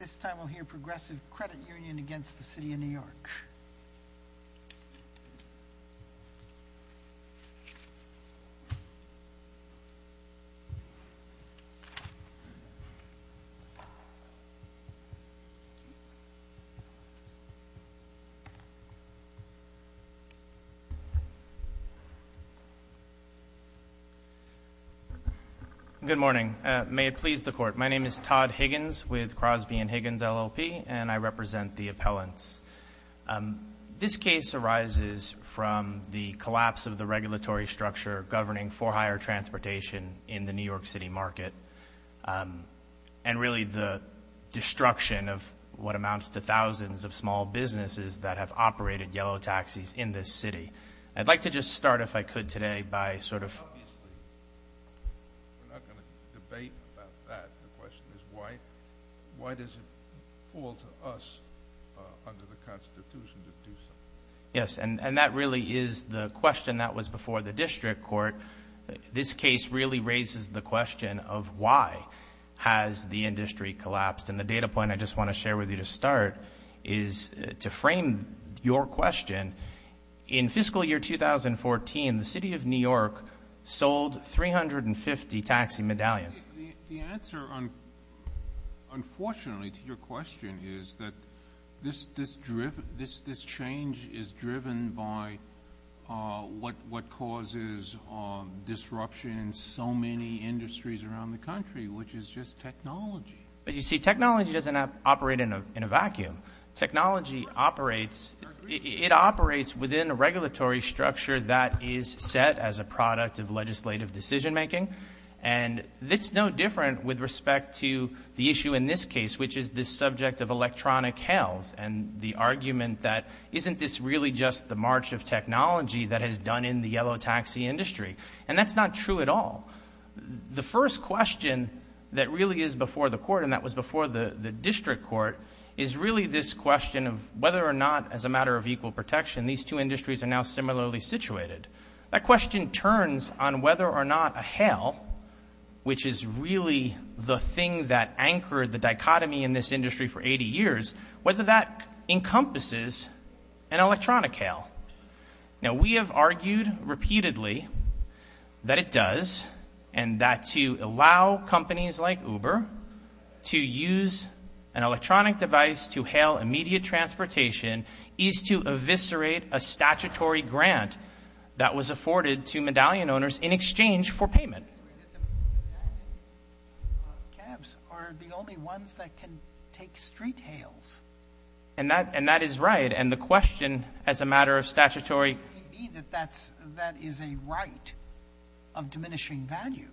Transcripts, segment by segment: This time we'll hear Progressive Credit Union against the City of New York. Good morning. May it please the Court, my name is Todd Higgins with Crosby & Higgins LLP and I represent the appellants. This case arises from the collapse of the regulatory structure governing for hire transportation in the New York City market and really the destruction of what amounts to thousands of small businesses that have operated yellow taxis in this city. I'd like to just start, if I could, today by sort of... Obviously, we're not going to debate about that. The question is, why does it fall to us under the Constitution to do something? Yes, and that really is the question that was before the district court. This case really raises the question of why has the industry collapsed and the data point I just want to share with you to start is to frame your question. In fiscal year 2014, the City of New York sold 350 taxi medallions. The answer, unfortunately, to your question is that this change is driven by what causes disruption in so many industries around the country, which is just technology. You see, technology doesn't operate in a vacuum. Technology operates within a regulatory structure that is set as a product of legislative decision making and it's no different with respect to the issue in this case, which is the subject of electronic hails and the argument that isn't this really just the march of technology that has done in the yellow taxi industry? That's not true at all. The first question that really is before the court and that was before the district court is really this question of whether or not as a matter of equal protection, these two industries are now similarly situated. That question turns on whether or not a hail, which is really the thing that anchored the dichotomy in this industry for 80 years, whether that encompasses an electronic hail. Now, we have argued repeatedly that it does and that to allow companies like Uber to use an electronic device to hail immediate transportation is to eviscerate a statutory grant that was afforded to medallion owners in exchange for payment. The medallion cabs are the only ones that can take street hails. And that is right. And the question as a matter of statutory- You mean that that is a right of diminishing value,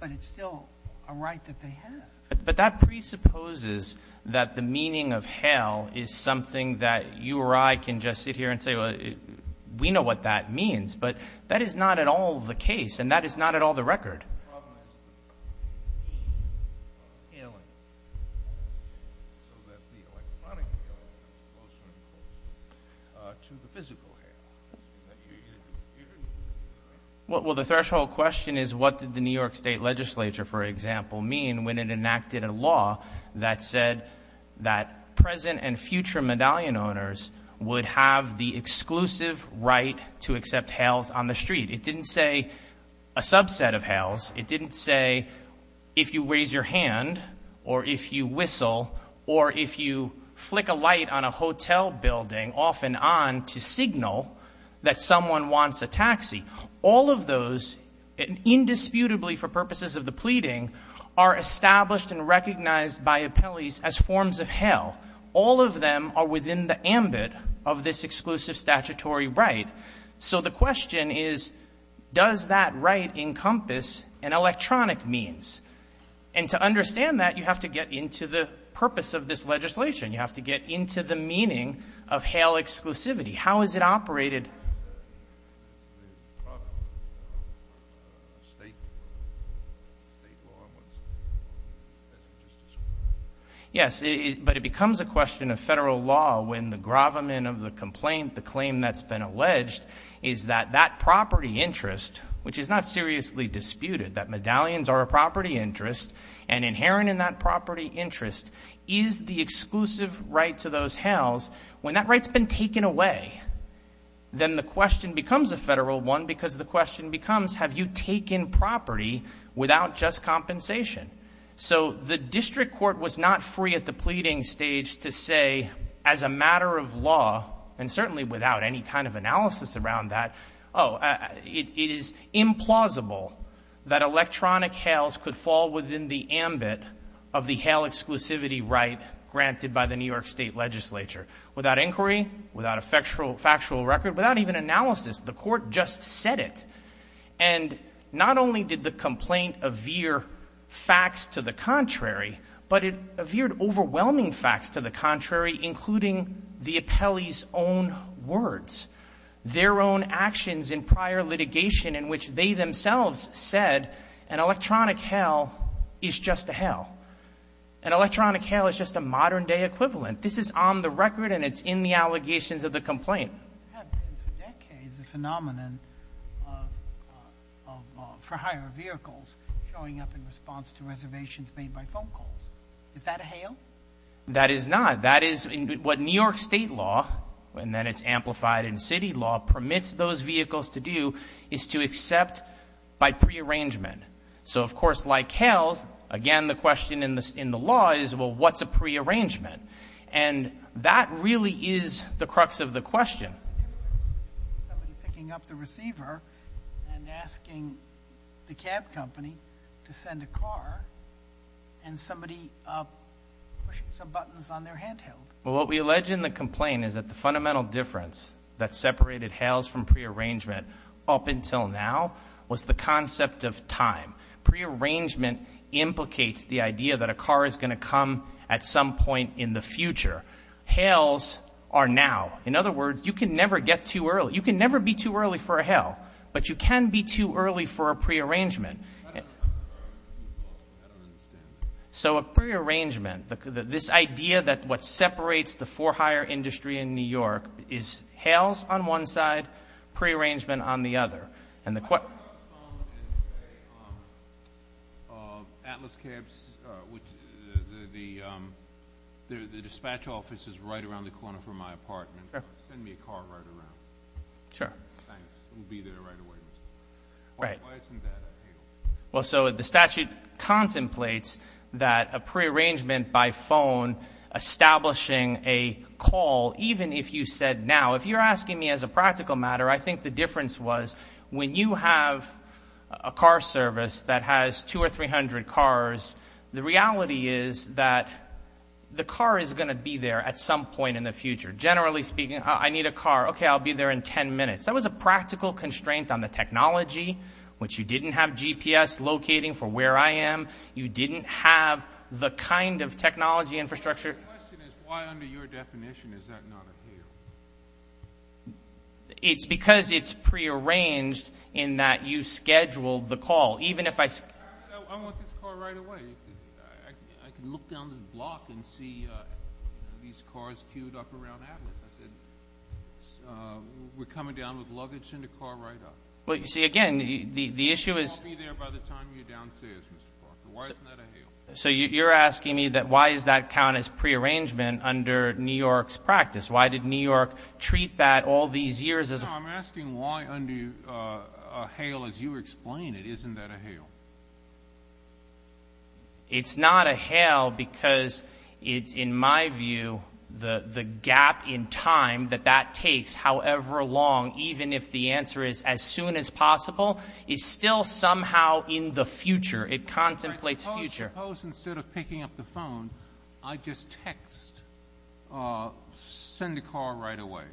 but it's still a right that they have. But that presupposes that the meaning of hail is something that you or I can just sit here and say, well, we know what that means, but that is not at all the case and that is not at all the record. My problem is the meaning of hailing so that the electronic hailing can be closer and closer to the physical hailing that you're doing. Well, the threshold question is what did the New York State Legislature, for example, mean when it enacted a law that said that present and future medallion owners would have the exclusive right to accept hails on the street? It didn't say a subset of hails. It didn't say if you raise your hand or if you whistle or if you flick a light on a hotel building off and on to signal that someone wants a taxi. All of those, indisputably for purposes of the pleading, are established and recognized by appellees as forms of hail. All of them are within the ambit of this exclusive statutory right. So the question is, does that right encompass an electronic means? And to understand that, you have to get into the purpose of this legislation. You have to get into the meaning of hail exclusivity. How is it operated? Yes, but it becomes a question of federal law when the gravamen of the complaint, the is that that property interest, which is not seriously disputed, that medallions are a property interest and inherent in that property interest is the exclusive right to those hails. When that right's been taken away, then the question becomes a federal one because the question becomes, have you taken property without just compensation? So the district court was not free at the pleading stage to say, as a matter of law, and certainly without any kind of analysis around that, oh, it is implausible that electronic hails could fall within the ambit of the hail exclusivity right granted by the New York State legislature. Without inquiry, without a factual record, without even analysis, the court just said it. And not only did the complaint avere facts to the contrary, but it avered overwhelming facts to the contrary, including the appellee's own words, their own actions in prior litigation in which they themselves said an electronic hail is just a hail. An electronic hail is just a modern day equivalent. This is on the record and it's in the allegations of the complaint. It has been for decades a phenomenon for hire vehicles showing up in response to reservations made by phone calls. Is that a hail? That is not. That is what New York State law, and then it's amplified in city law, permits those vehicles to do is to accept by prearrangement. So, of course, like hails, again, the question in the law is, well, what's a prearrangement? And that really is the crux of the question. Somebody picking up the receiver and asking the cab company to send a car and somebody pushing some buttons on their handheld. Well, what we allege in the complaint is that the fundamental difference that separated hails from prearrangement up until now was the concept of time. Prearrangement implicates the idea that a car is going to come at some point in the future. Hails are now. In other words, you can never get too early. You can never be too early for a hail, but you can be too early for a prearrangement. So a prearrangement, this idea that what separates the for hire industry in New York is hails on one side, prearrangement on the other. The statute contemplates that a prearrangement by phone establishing a call, even if you said I think the difference was when you have a car service that has two or 300 cars, the reality is that the car is going to be there at some point in the future. Generally speaking, I need a car. OK, I'll be there in 10 minutes. That was a practical constraint on the technology, which you didn't have GPS locating for where I am. You didn't have the kind of technology infrastructure. My question is, why under your definition is that not a hail? It's because it's prearranged in that you scheduled the call, even if I I want this car right away. I can look down this block and see these cars queued up around Atlas. I said we're coming down with luggage and a car right up. Well, you see, again, the issue is I'll be there by the time you're downstairs, Mr. Parker. Why isn't that a hail? So you're asking me that why is that count as prearrangement under New York's practice? Why did New York treat that all these years? As I'm asking why under a hail, as you explain it, isn't that a hail? It's not a hail because it's in my view, the gap in time that that takes, however long, even if the answer is as soon as possible, is still somehow in the future. It contemplates future. Suppose instead of picking up the phone, I just text, send a car right away.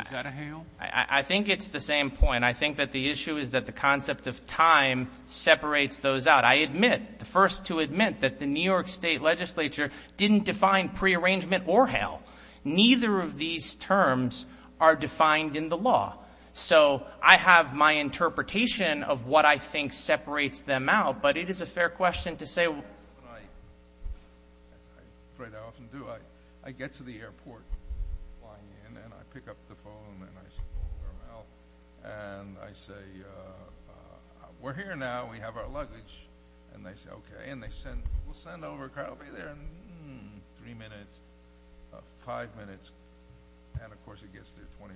Is that a hail? I think it's the same point. I think that the issue is that the concept of time separates those out. I admit, the first to admit that the New York state legislature didn't define prearrangement or hail. Neither of these terms are defined in the law. I have my interpretation of what I think separates them out, but it is a fair question to say. I get to the airport flying in, and I pick up the phone, and I say, we're here now. We have our luggage. They say, okay, and they send, we'll send over a car. It'll be there in three minutes, five minutes, and of course it gets there 20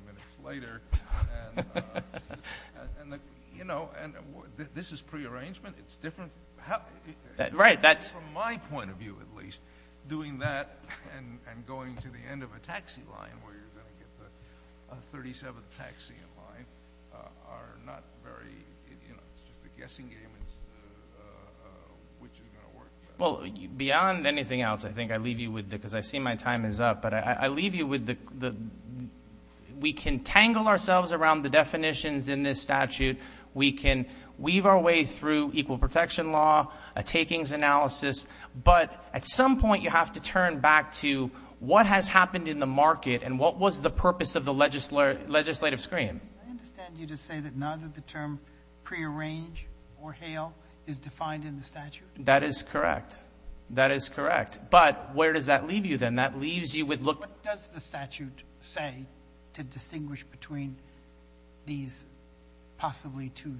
minutes later. This is prearrangement. It's different. From my point of view, at least, doing that and going to the end of a taxi line where you're going to get the 37th taxi in line are not very, it's just a guessing game as to which is going to work. Well, beyond anything else, I think I leave you with, because I see my time is up, but I leave you with the, we can tangle ourselves around the definitions in this statute. We can weave our way through equal protection law, a takings analysis, but at some point you have to turn back to what has happened in the market and what was the purpose of the legislative screen. I understand you to say that neither the term prearrange or hail is defined in the statute. That is correct. That is correct. But where does that leave you then? What does the statute say to distinguish between these possibly two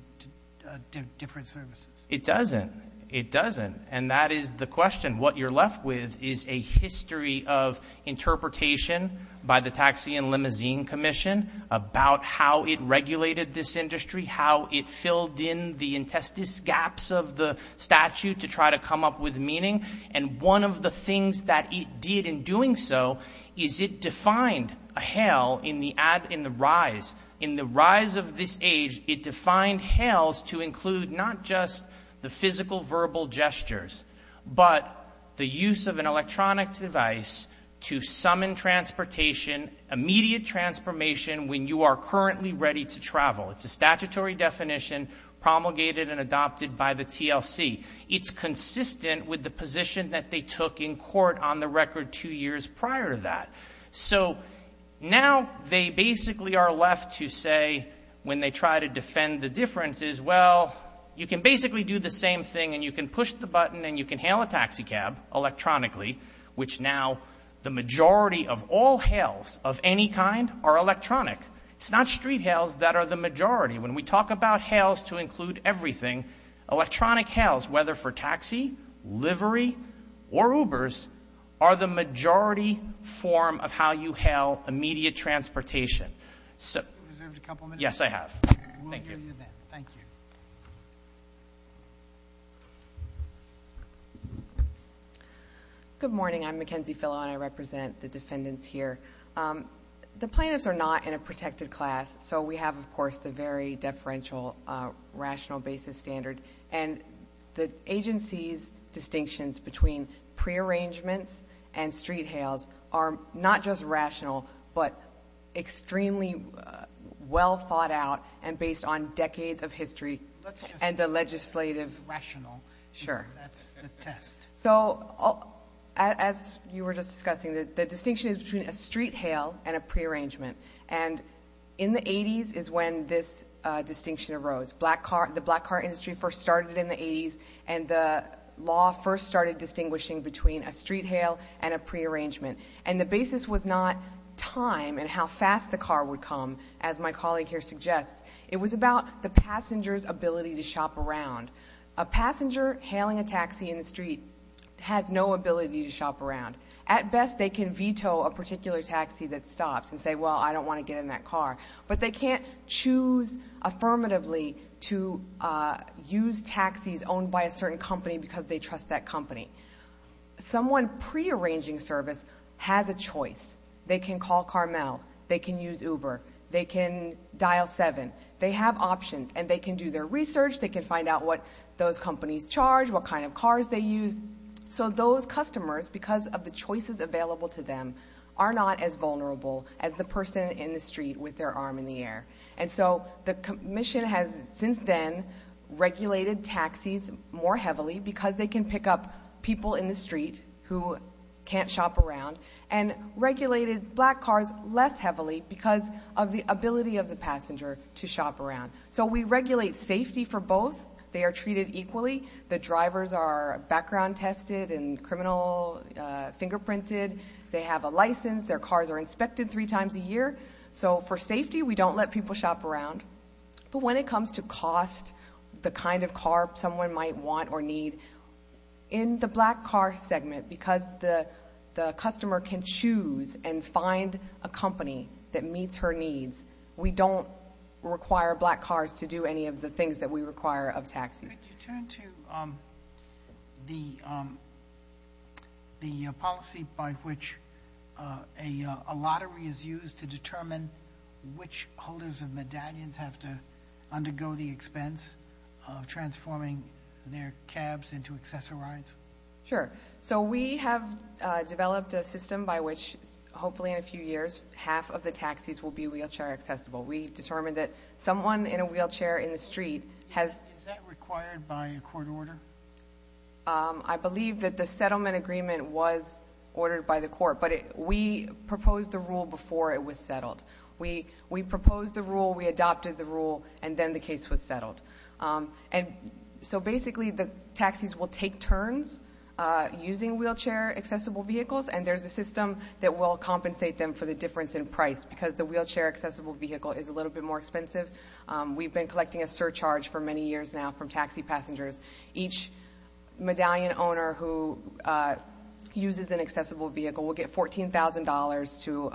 different services? It doesn't. It doesn't. And that is the question. What you're left with is a history of interpretation by the Taxi and Limousine Commission about how it regulated this industry, how it filled in the intestines gaps of the statute to try to come up with meaning. And one of the things that it did in doing so is it defined a hail in the rise. In the rise of this age, it defined hails to include not just the physical verbal gestures, but the use of an electronic device to summon transportation, immediate transformation when you are currently ready to travel. It's a statutory definition promulgated and adopted by the TLC. It's consistent with the position that they took in court on the record two years prior to that. So now they basically are left to say when they try to defend the differences, well, you can basically do the same thing and you can push the button and you can hail a taxi cab electronically, which now the majority of all hails of any kind are electronic. It's not street hails that are the majority. When we talk about hails to include everything, electronic hails, whether for taxi, livery, or Ubers, are the majority form of how you hail immediate transportation. You've reserved a couple minutes. Yes, I have. We'll give you that. Thank you. Good morning. I'm Mackenzie Fillo and I represent the defendants here. The plaintiffs are not in a protected class, so we have, of course, the very deferential rational basis standard. And the agency's distinctions between prearrangements and street hails are not just rational, but extremely well thought out and based on decades of history and the legislative... Rational, because that's the test. So, as you were just discussing, the distinction is between a street hail and a prearrangement. And in the 80s is when this distinction arose. The black car industry first started in the 80s and the law first started distinguishing between a street hail and a prearrangement. And the basis was not time and how fast the car would come, as my colleague here suggests. It was about the passenger's ability to shop around. A passenger hailing a taxi in the street has no ability to shop around. At best, they can veto a particular taxi that stops and say, well, I don't want to get in that car. But they can't choose affirmatively to use taxis owned by a certain company because they trust that company. Someone prearranging service has a choice. They can call Carmel. They can use Uber. They can dial 7. They have options. And they can do their research. They can find out what those companies charge, what kind of cars they use. So those customers, because of the choices available to them, are not as vulnerable as the person in the street with their arm in the air. And so the commission has since then regulated taxis more heavily because they can pick up people in the street who can't shop around and regulated black cars less heavily because of the ability of the passenger to shop around. So we regulate safety for both. They are treated equally. The drivers are background tested and criminal fingerprinted. They have a license. Their cars are inspected three times a year. So for safety, we don't let people shop around. But when it comes to cost, the kind of car someone might want or need, in the black car segment, because the customer can choose and find a company that meets her to do any of the things that we require of taxis. Could you turn to the policy by which a lottery is used to determine which holders of medallions have to undergo the expense of transforming their cabs into accessorized? Sure. So we have developed a system by which, hopefully in a few years, half of the taxis will be wheelchair accessible. We determined that someone in a wheelchair in the street has— Is that required by a court order? I believe that the settlement agreement was ordered by the court. But we proposed the rule before it was settled. We proposed the rule. We adopted the rule. And then the case was settled. And so basically, the taxis will take turns using wheelchair accessible vehicles. And there's a system that will compensate them for the difference in price because the wheelchair accessible vehicle is a little bit more expensive. We've been collecting a surcharge for many years now from taxi passengers. Each medallion owner who uses an accessible vehicle will get $14,000 to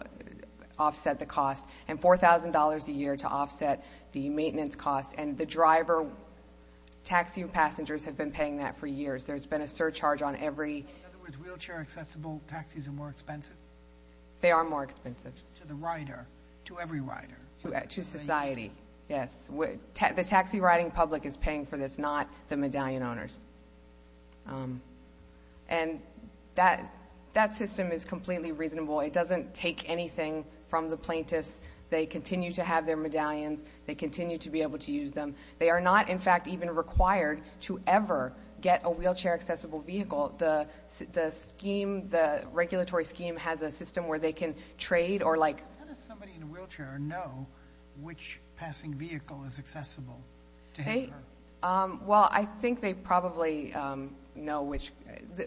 offset the cost and $4,000 a year to offset the maintenance costs. And the driver—taxi passengers have been paying that for years. There's been a surcharge on every— In other words, wheelchair accessible taxis are more expensive? They are more expensive. To the rider? To every rider? To society, yes. The taxi riding public is paying for this, not the medallion owners. And that system is completely reasonable. It doesn't take anything from the plaintiffs. They continue to have their medallions. They continue to be able to use them. They are not, in fact, even required to ever get a wheelchair accessible vehicle. The scheme, the regulatory scheme, has a system where they can trade or like— How does somebody in a wheelchair know which passing vehicle is accessible to him or her? Well, I think they probably know which—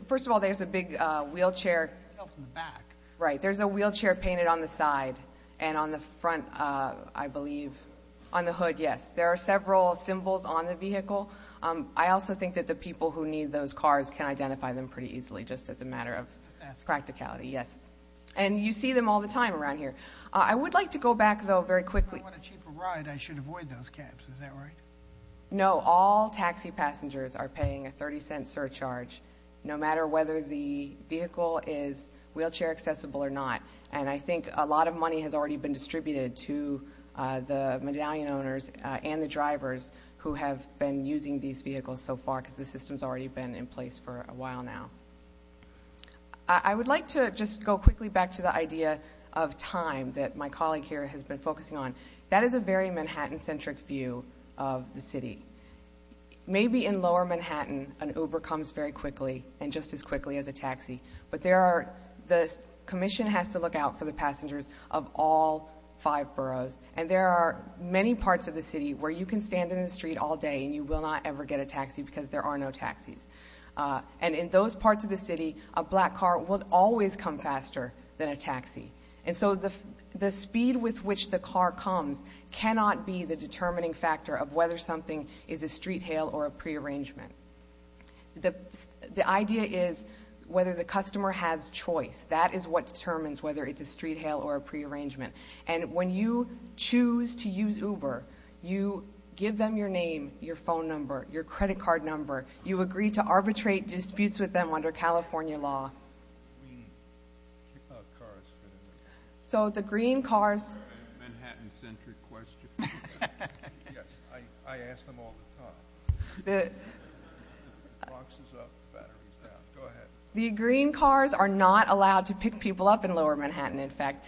First of all, there's a big wheelchair— You can tell from the back. Right. There's a wheelchair painted on the side and on the front, I believe, on the hood, yes. There are several symbols on the vehicle. I also think that the people who need those cars can identify them pretty easily, just as a matter of practicality, yes. And you see them all the time around here. I would like to go back, though, very quickly— If I want a cheaper ride, I should avoid those cabs, is that right? No. All taxi passengers are paying a 30-cent surcharge, no matter whether the vehicle is wheelchair accessible or not. And I think a lot of money has already been distributed to the medallion owners and the drivers who have been using these vehicles so far, because the system's already been in place for a while now. I would like to just go quickly back to the idea of time that my colleague here has been focusing on. That is a very Manhattan-centric view of the city. Maybe in lower Manhattan, an Uber comes very quickly, and just as quickly as a taxi. But the commission has to look out for the passengers of all five boroughs. And there are many parts of the city where you can stand in the street all day and you will not ever get a taxi because there are no taxis. And in those parts of the city, a black car will always come faster than a taxi. And so the speed with which the car comes cannot be the determining factor of whether something is a street hail or a prearrangement. The idea is whether the customer has choice. That is what determines whether it's a street hail or a prearrangement. And when you choose to use Uber, you give them your name, your phone number, your credit card number. You agree to arbitrate disputes with them under California law. So the green cars... Green cars are not allowed to pick people up in lower Manhattan. In fact,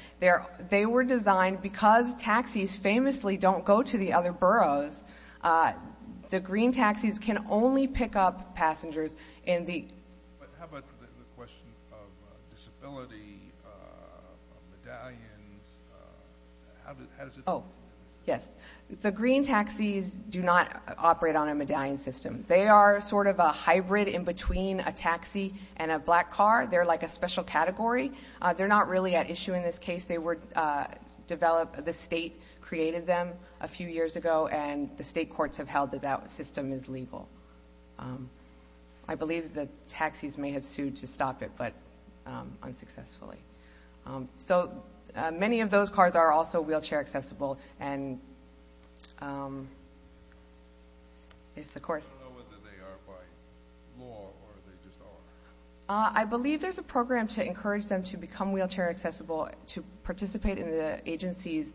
they were designed... Because taxis famously don't go to the other boroughs, the green taxis can only pick up passengers in the... But how about the question of disability, medallions, how does it... Oh, yes. The green taxis do not operate on a medallion system. They are sort of a hybrid in between a taxi and a black car. They're like a special category. They're not really at issue in this case. They were developed... The state created them a few years ago, and the state courts have held that that system is legal. I believe the taxis may have sued to stop it, but unsuccessfully. So many of those cars are also wheelchair accessible. And if the court... I don't know whether they are by law or they just are. I believe there's a program to encourage them to become wheelchair accessible, to participate in the agency's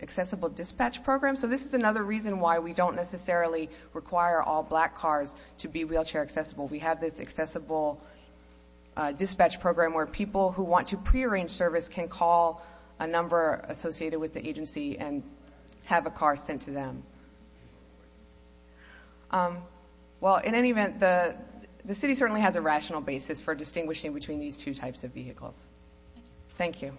accessible dispatch program. So this is another reason why we don't necessarily require all black cars to be wheelchair accessible. We have this accessible dispatch program where people who want to prearrange service can call a number associated with the agency and have a car sent to them. Well, in any event, the city certainly has a rational basis for distinguishing between these two types of vehicles. Thank you.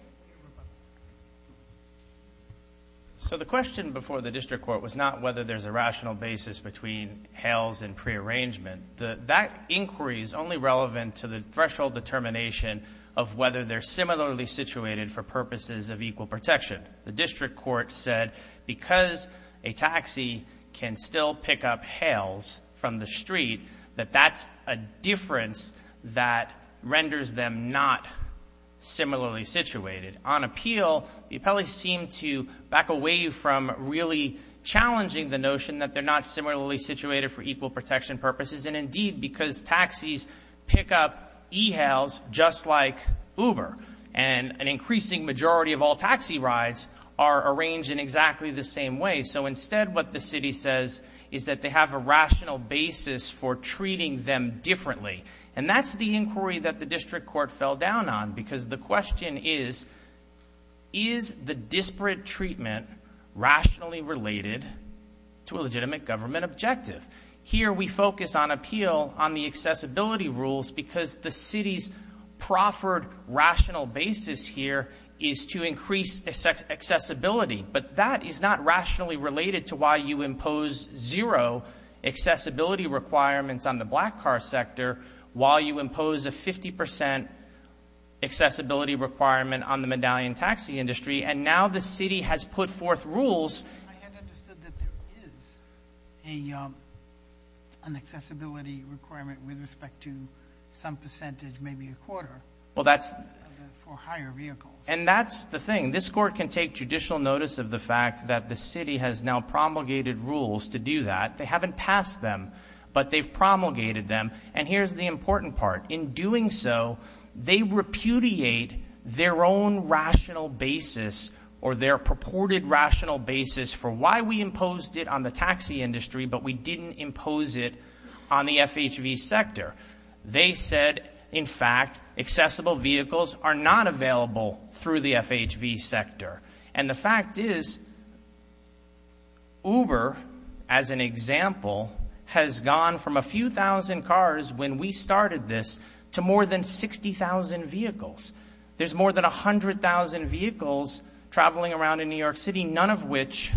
So the question before the district court was not whether there's a rational basis between HAILS and prearrangement. That inquiry is only relevant to the threshold determination of whether they're similarly situated for purposes of equal protection. The district court said, because a taxi can still pick up HAILS from the street, that that's a difference that renders them not similarly situated. On appeal, the appellees seem to back away from really challenging the notion that they're not similarly situated for equal protection purposes. And indeed, because taxis pick up eHAILS just like Uber, and an increasing majority of all taxi rides are arranged in exactly the same way. So instead, what the city says is that they have a rational basis for treating them differently. And that's the inquiry that the district court fell down on, because the question is, is the disparate treatment rationally related to a legitimate government objective? Here, we focus on appeal on the accessibility rules because the city's proffered rational basis here is to increase accessibility. But that is not rationally related to why you impose zero accessibility requirements on the black car sector while you impose a 50% accessibility requirement on the medallion taxi industry. And now the city has put forth rules... I hadn't understood that there is an accessibility requirement with respect to some percentage, maybe a quarter... Well, that's... For higher vehicles. And that's the thing. This court can take judicial notice of the fact that the city has now promulgated rules to do that. They haven't passed them, but they've promulgated them. And here's the important part. In doing so, they repudiate their own rational basis or their purported rational basis for why we imposed it on the taxi industry, but we didn't impose it on the FHV sector. They said, in fact, accessible vehicles are not available through the FHV sector. And the fact is, Uber, as an example, has gone from a few thousand cars when we started this to more than 60,000 vehicles. There's more than 100,000 vehicles traveling around in New York City, none of which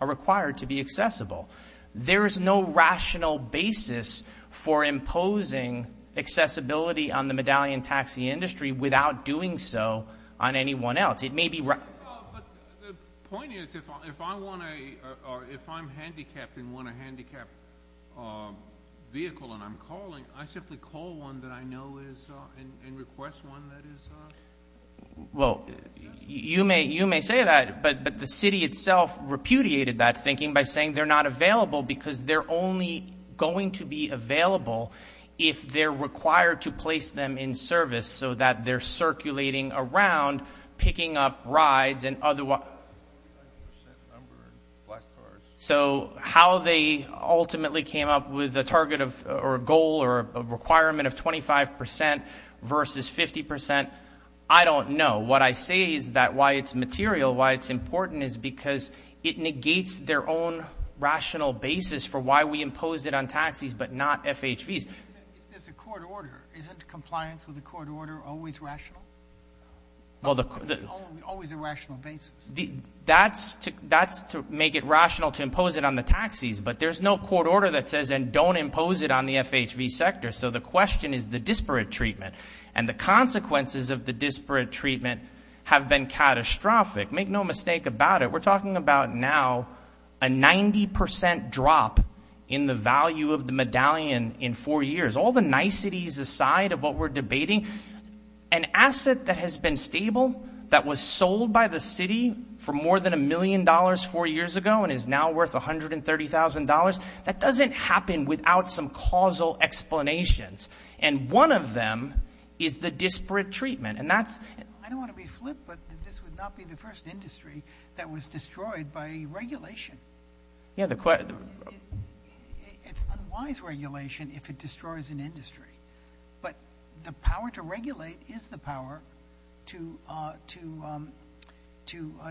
are required to be accessible. There is no rational basis for imposing accessibility on the medallion taxi industry without doing so on anyone else. It may be... But the point is, if I want a... or if I'm handicapped and want a handicapped vehicle and I'm calling, I simply call one that I know is... and request one that is... Well, you may say that, but the city itself repudiated that thinking by saying they're not available because they're only going to be available if they're required to place them in service so that they're circulating around, picking up rides and other... So how they ultimately came up with a target of... or a goal or a requirement of 25% versus 50%, I don't know. What I say is that why it's material, why it's important, is because it negates their own rational basis for why we imposed it on taxis but not FHVs. If it's a court order, isn't compliance with a court order always rational? Well, the... Always a rational basis. That's to make it rational to impose it on the taxis, but there's no court order that says, and don't impose it on the FHV sector. So the question is the disparate treatment, and the consequences of the disparate treatment have been catastrophic. Make no mistake about it. We're talking about now a 90% drop in the value of the medallion in four years. All the niceties aside of what we're debating, an asset that has been stable, that was sold by the city for more than a million dollars four years ago and is now worth $130,000, that doesn't happen without some causal explanations, and one of them is the disparate treatment, and that's... I don't want to be flip, but this would not be the first industry that was destroyed by regulation. Yeah, the... It's unwise regulation if it destroys an industry, but the power to regulate is the power to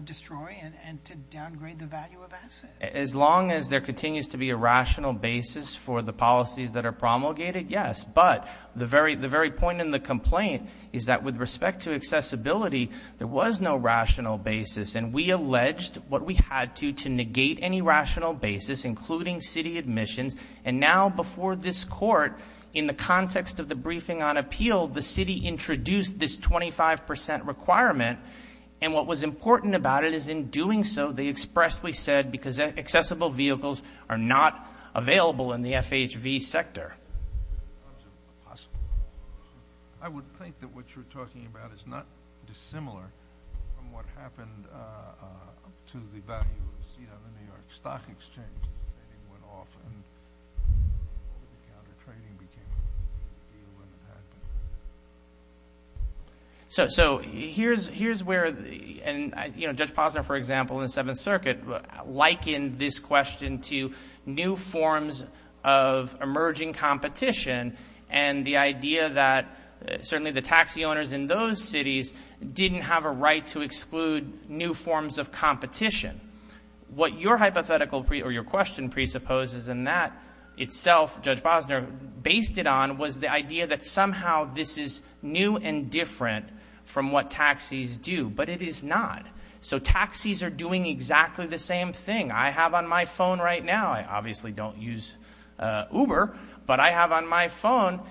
destroy and to downgrade the value of assets. As long as there continues to be a rational basis for the policies that are promulgated, yes, but the very point in the complaint is that with respect to accessibility, there was no rational basis, and we alleged what we had to to negate any rational basis, including city admissions, and now before this court, in the context of the briefing on appeal, the city introduced this 25% requirement, and what was important about it is in doing so, they expressly said because accessible vehicles are not available in the FHV sector. I would think that what you're talking about is not dissimilar from what happened to the value of the New York Stock Exchange. So here's where, you know, Judge Posner, for example, in the Seventh Circuit likened this question to new forms of emerging competition and the idea that certainly the taxi owners in those cities didn't have a right to exclude new forms of competition. What your hypothetical or your question presupposes and that itself Judge Posner based it on was the idea that somehow this is new and different from what taxis do, but it is not. So taxis are doing exactly the same thing. I have on my phone right now, I obviously don't use Uber, but I have on my phone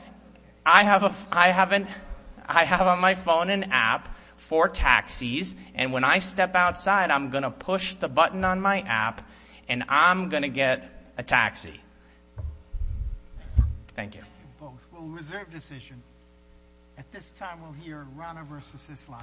an app for taxis, and when I step outside, I'm going to push the button on my app and I'm going to get a taxi. Thank you. Well, reserve decision. At this time, we'll hear Rana versus Islam. Thank you.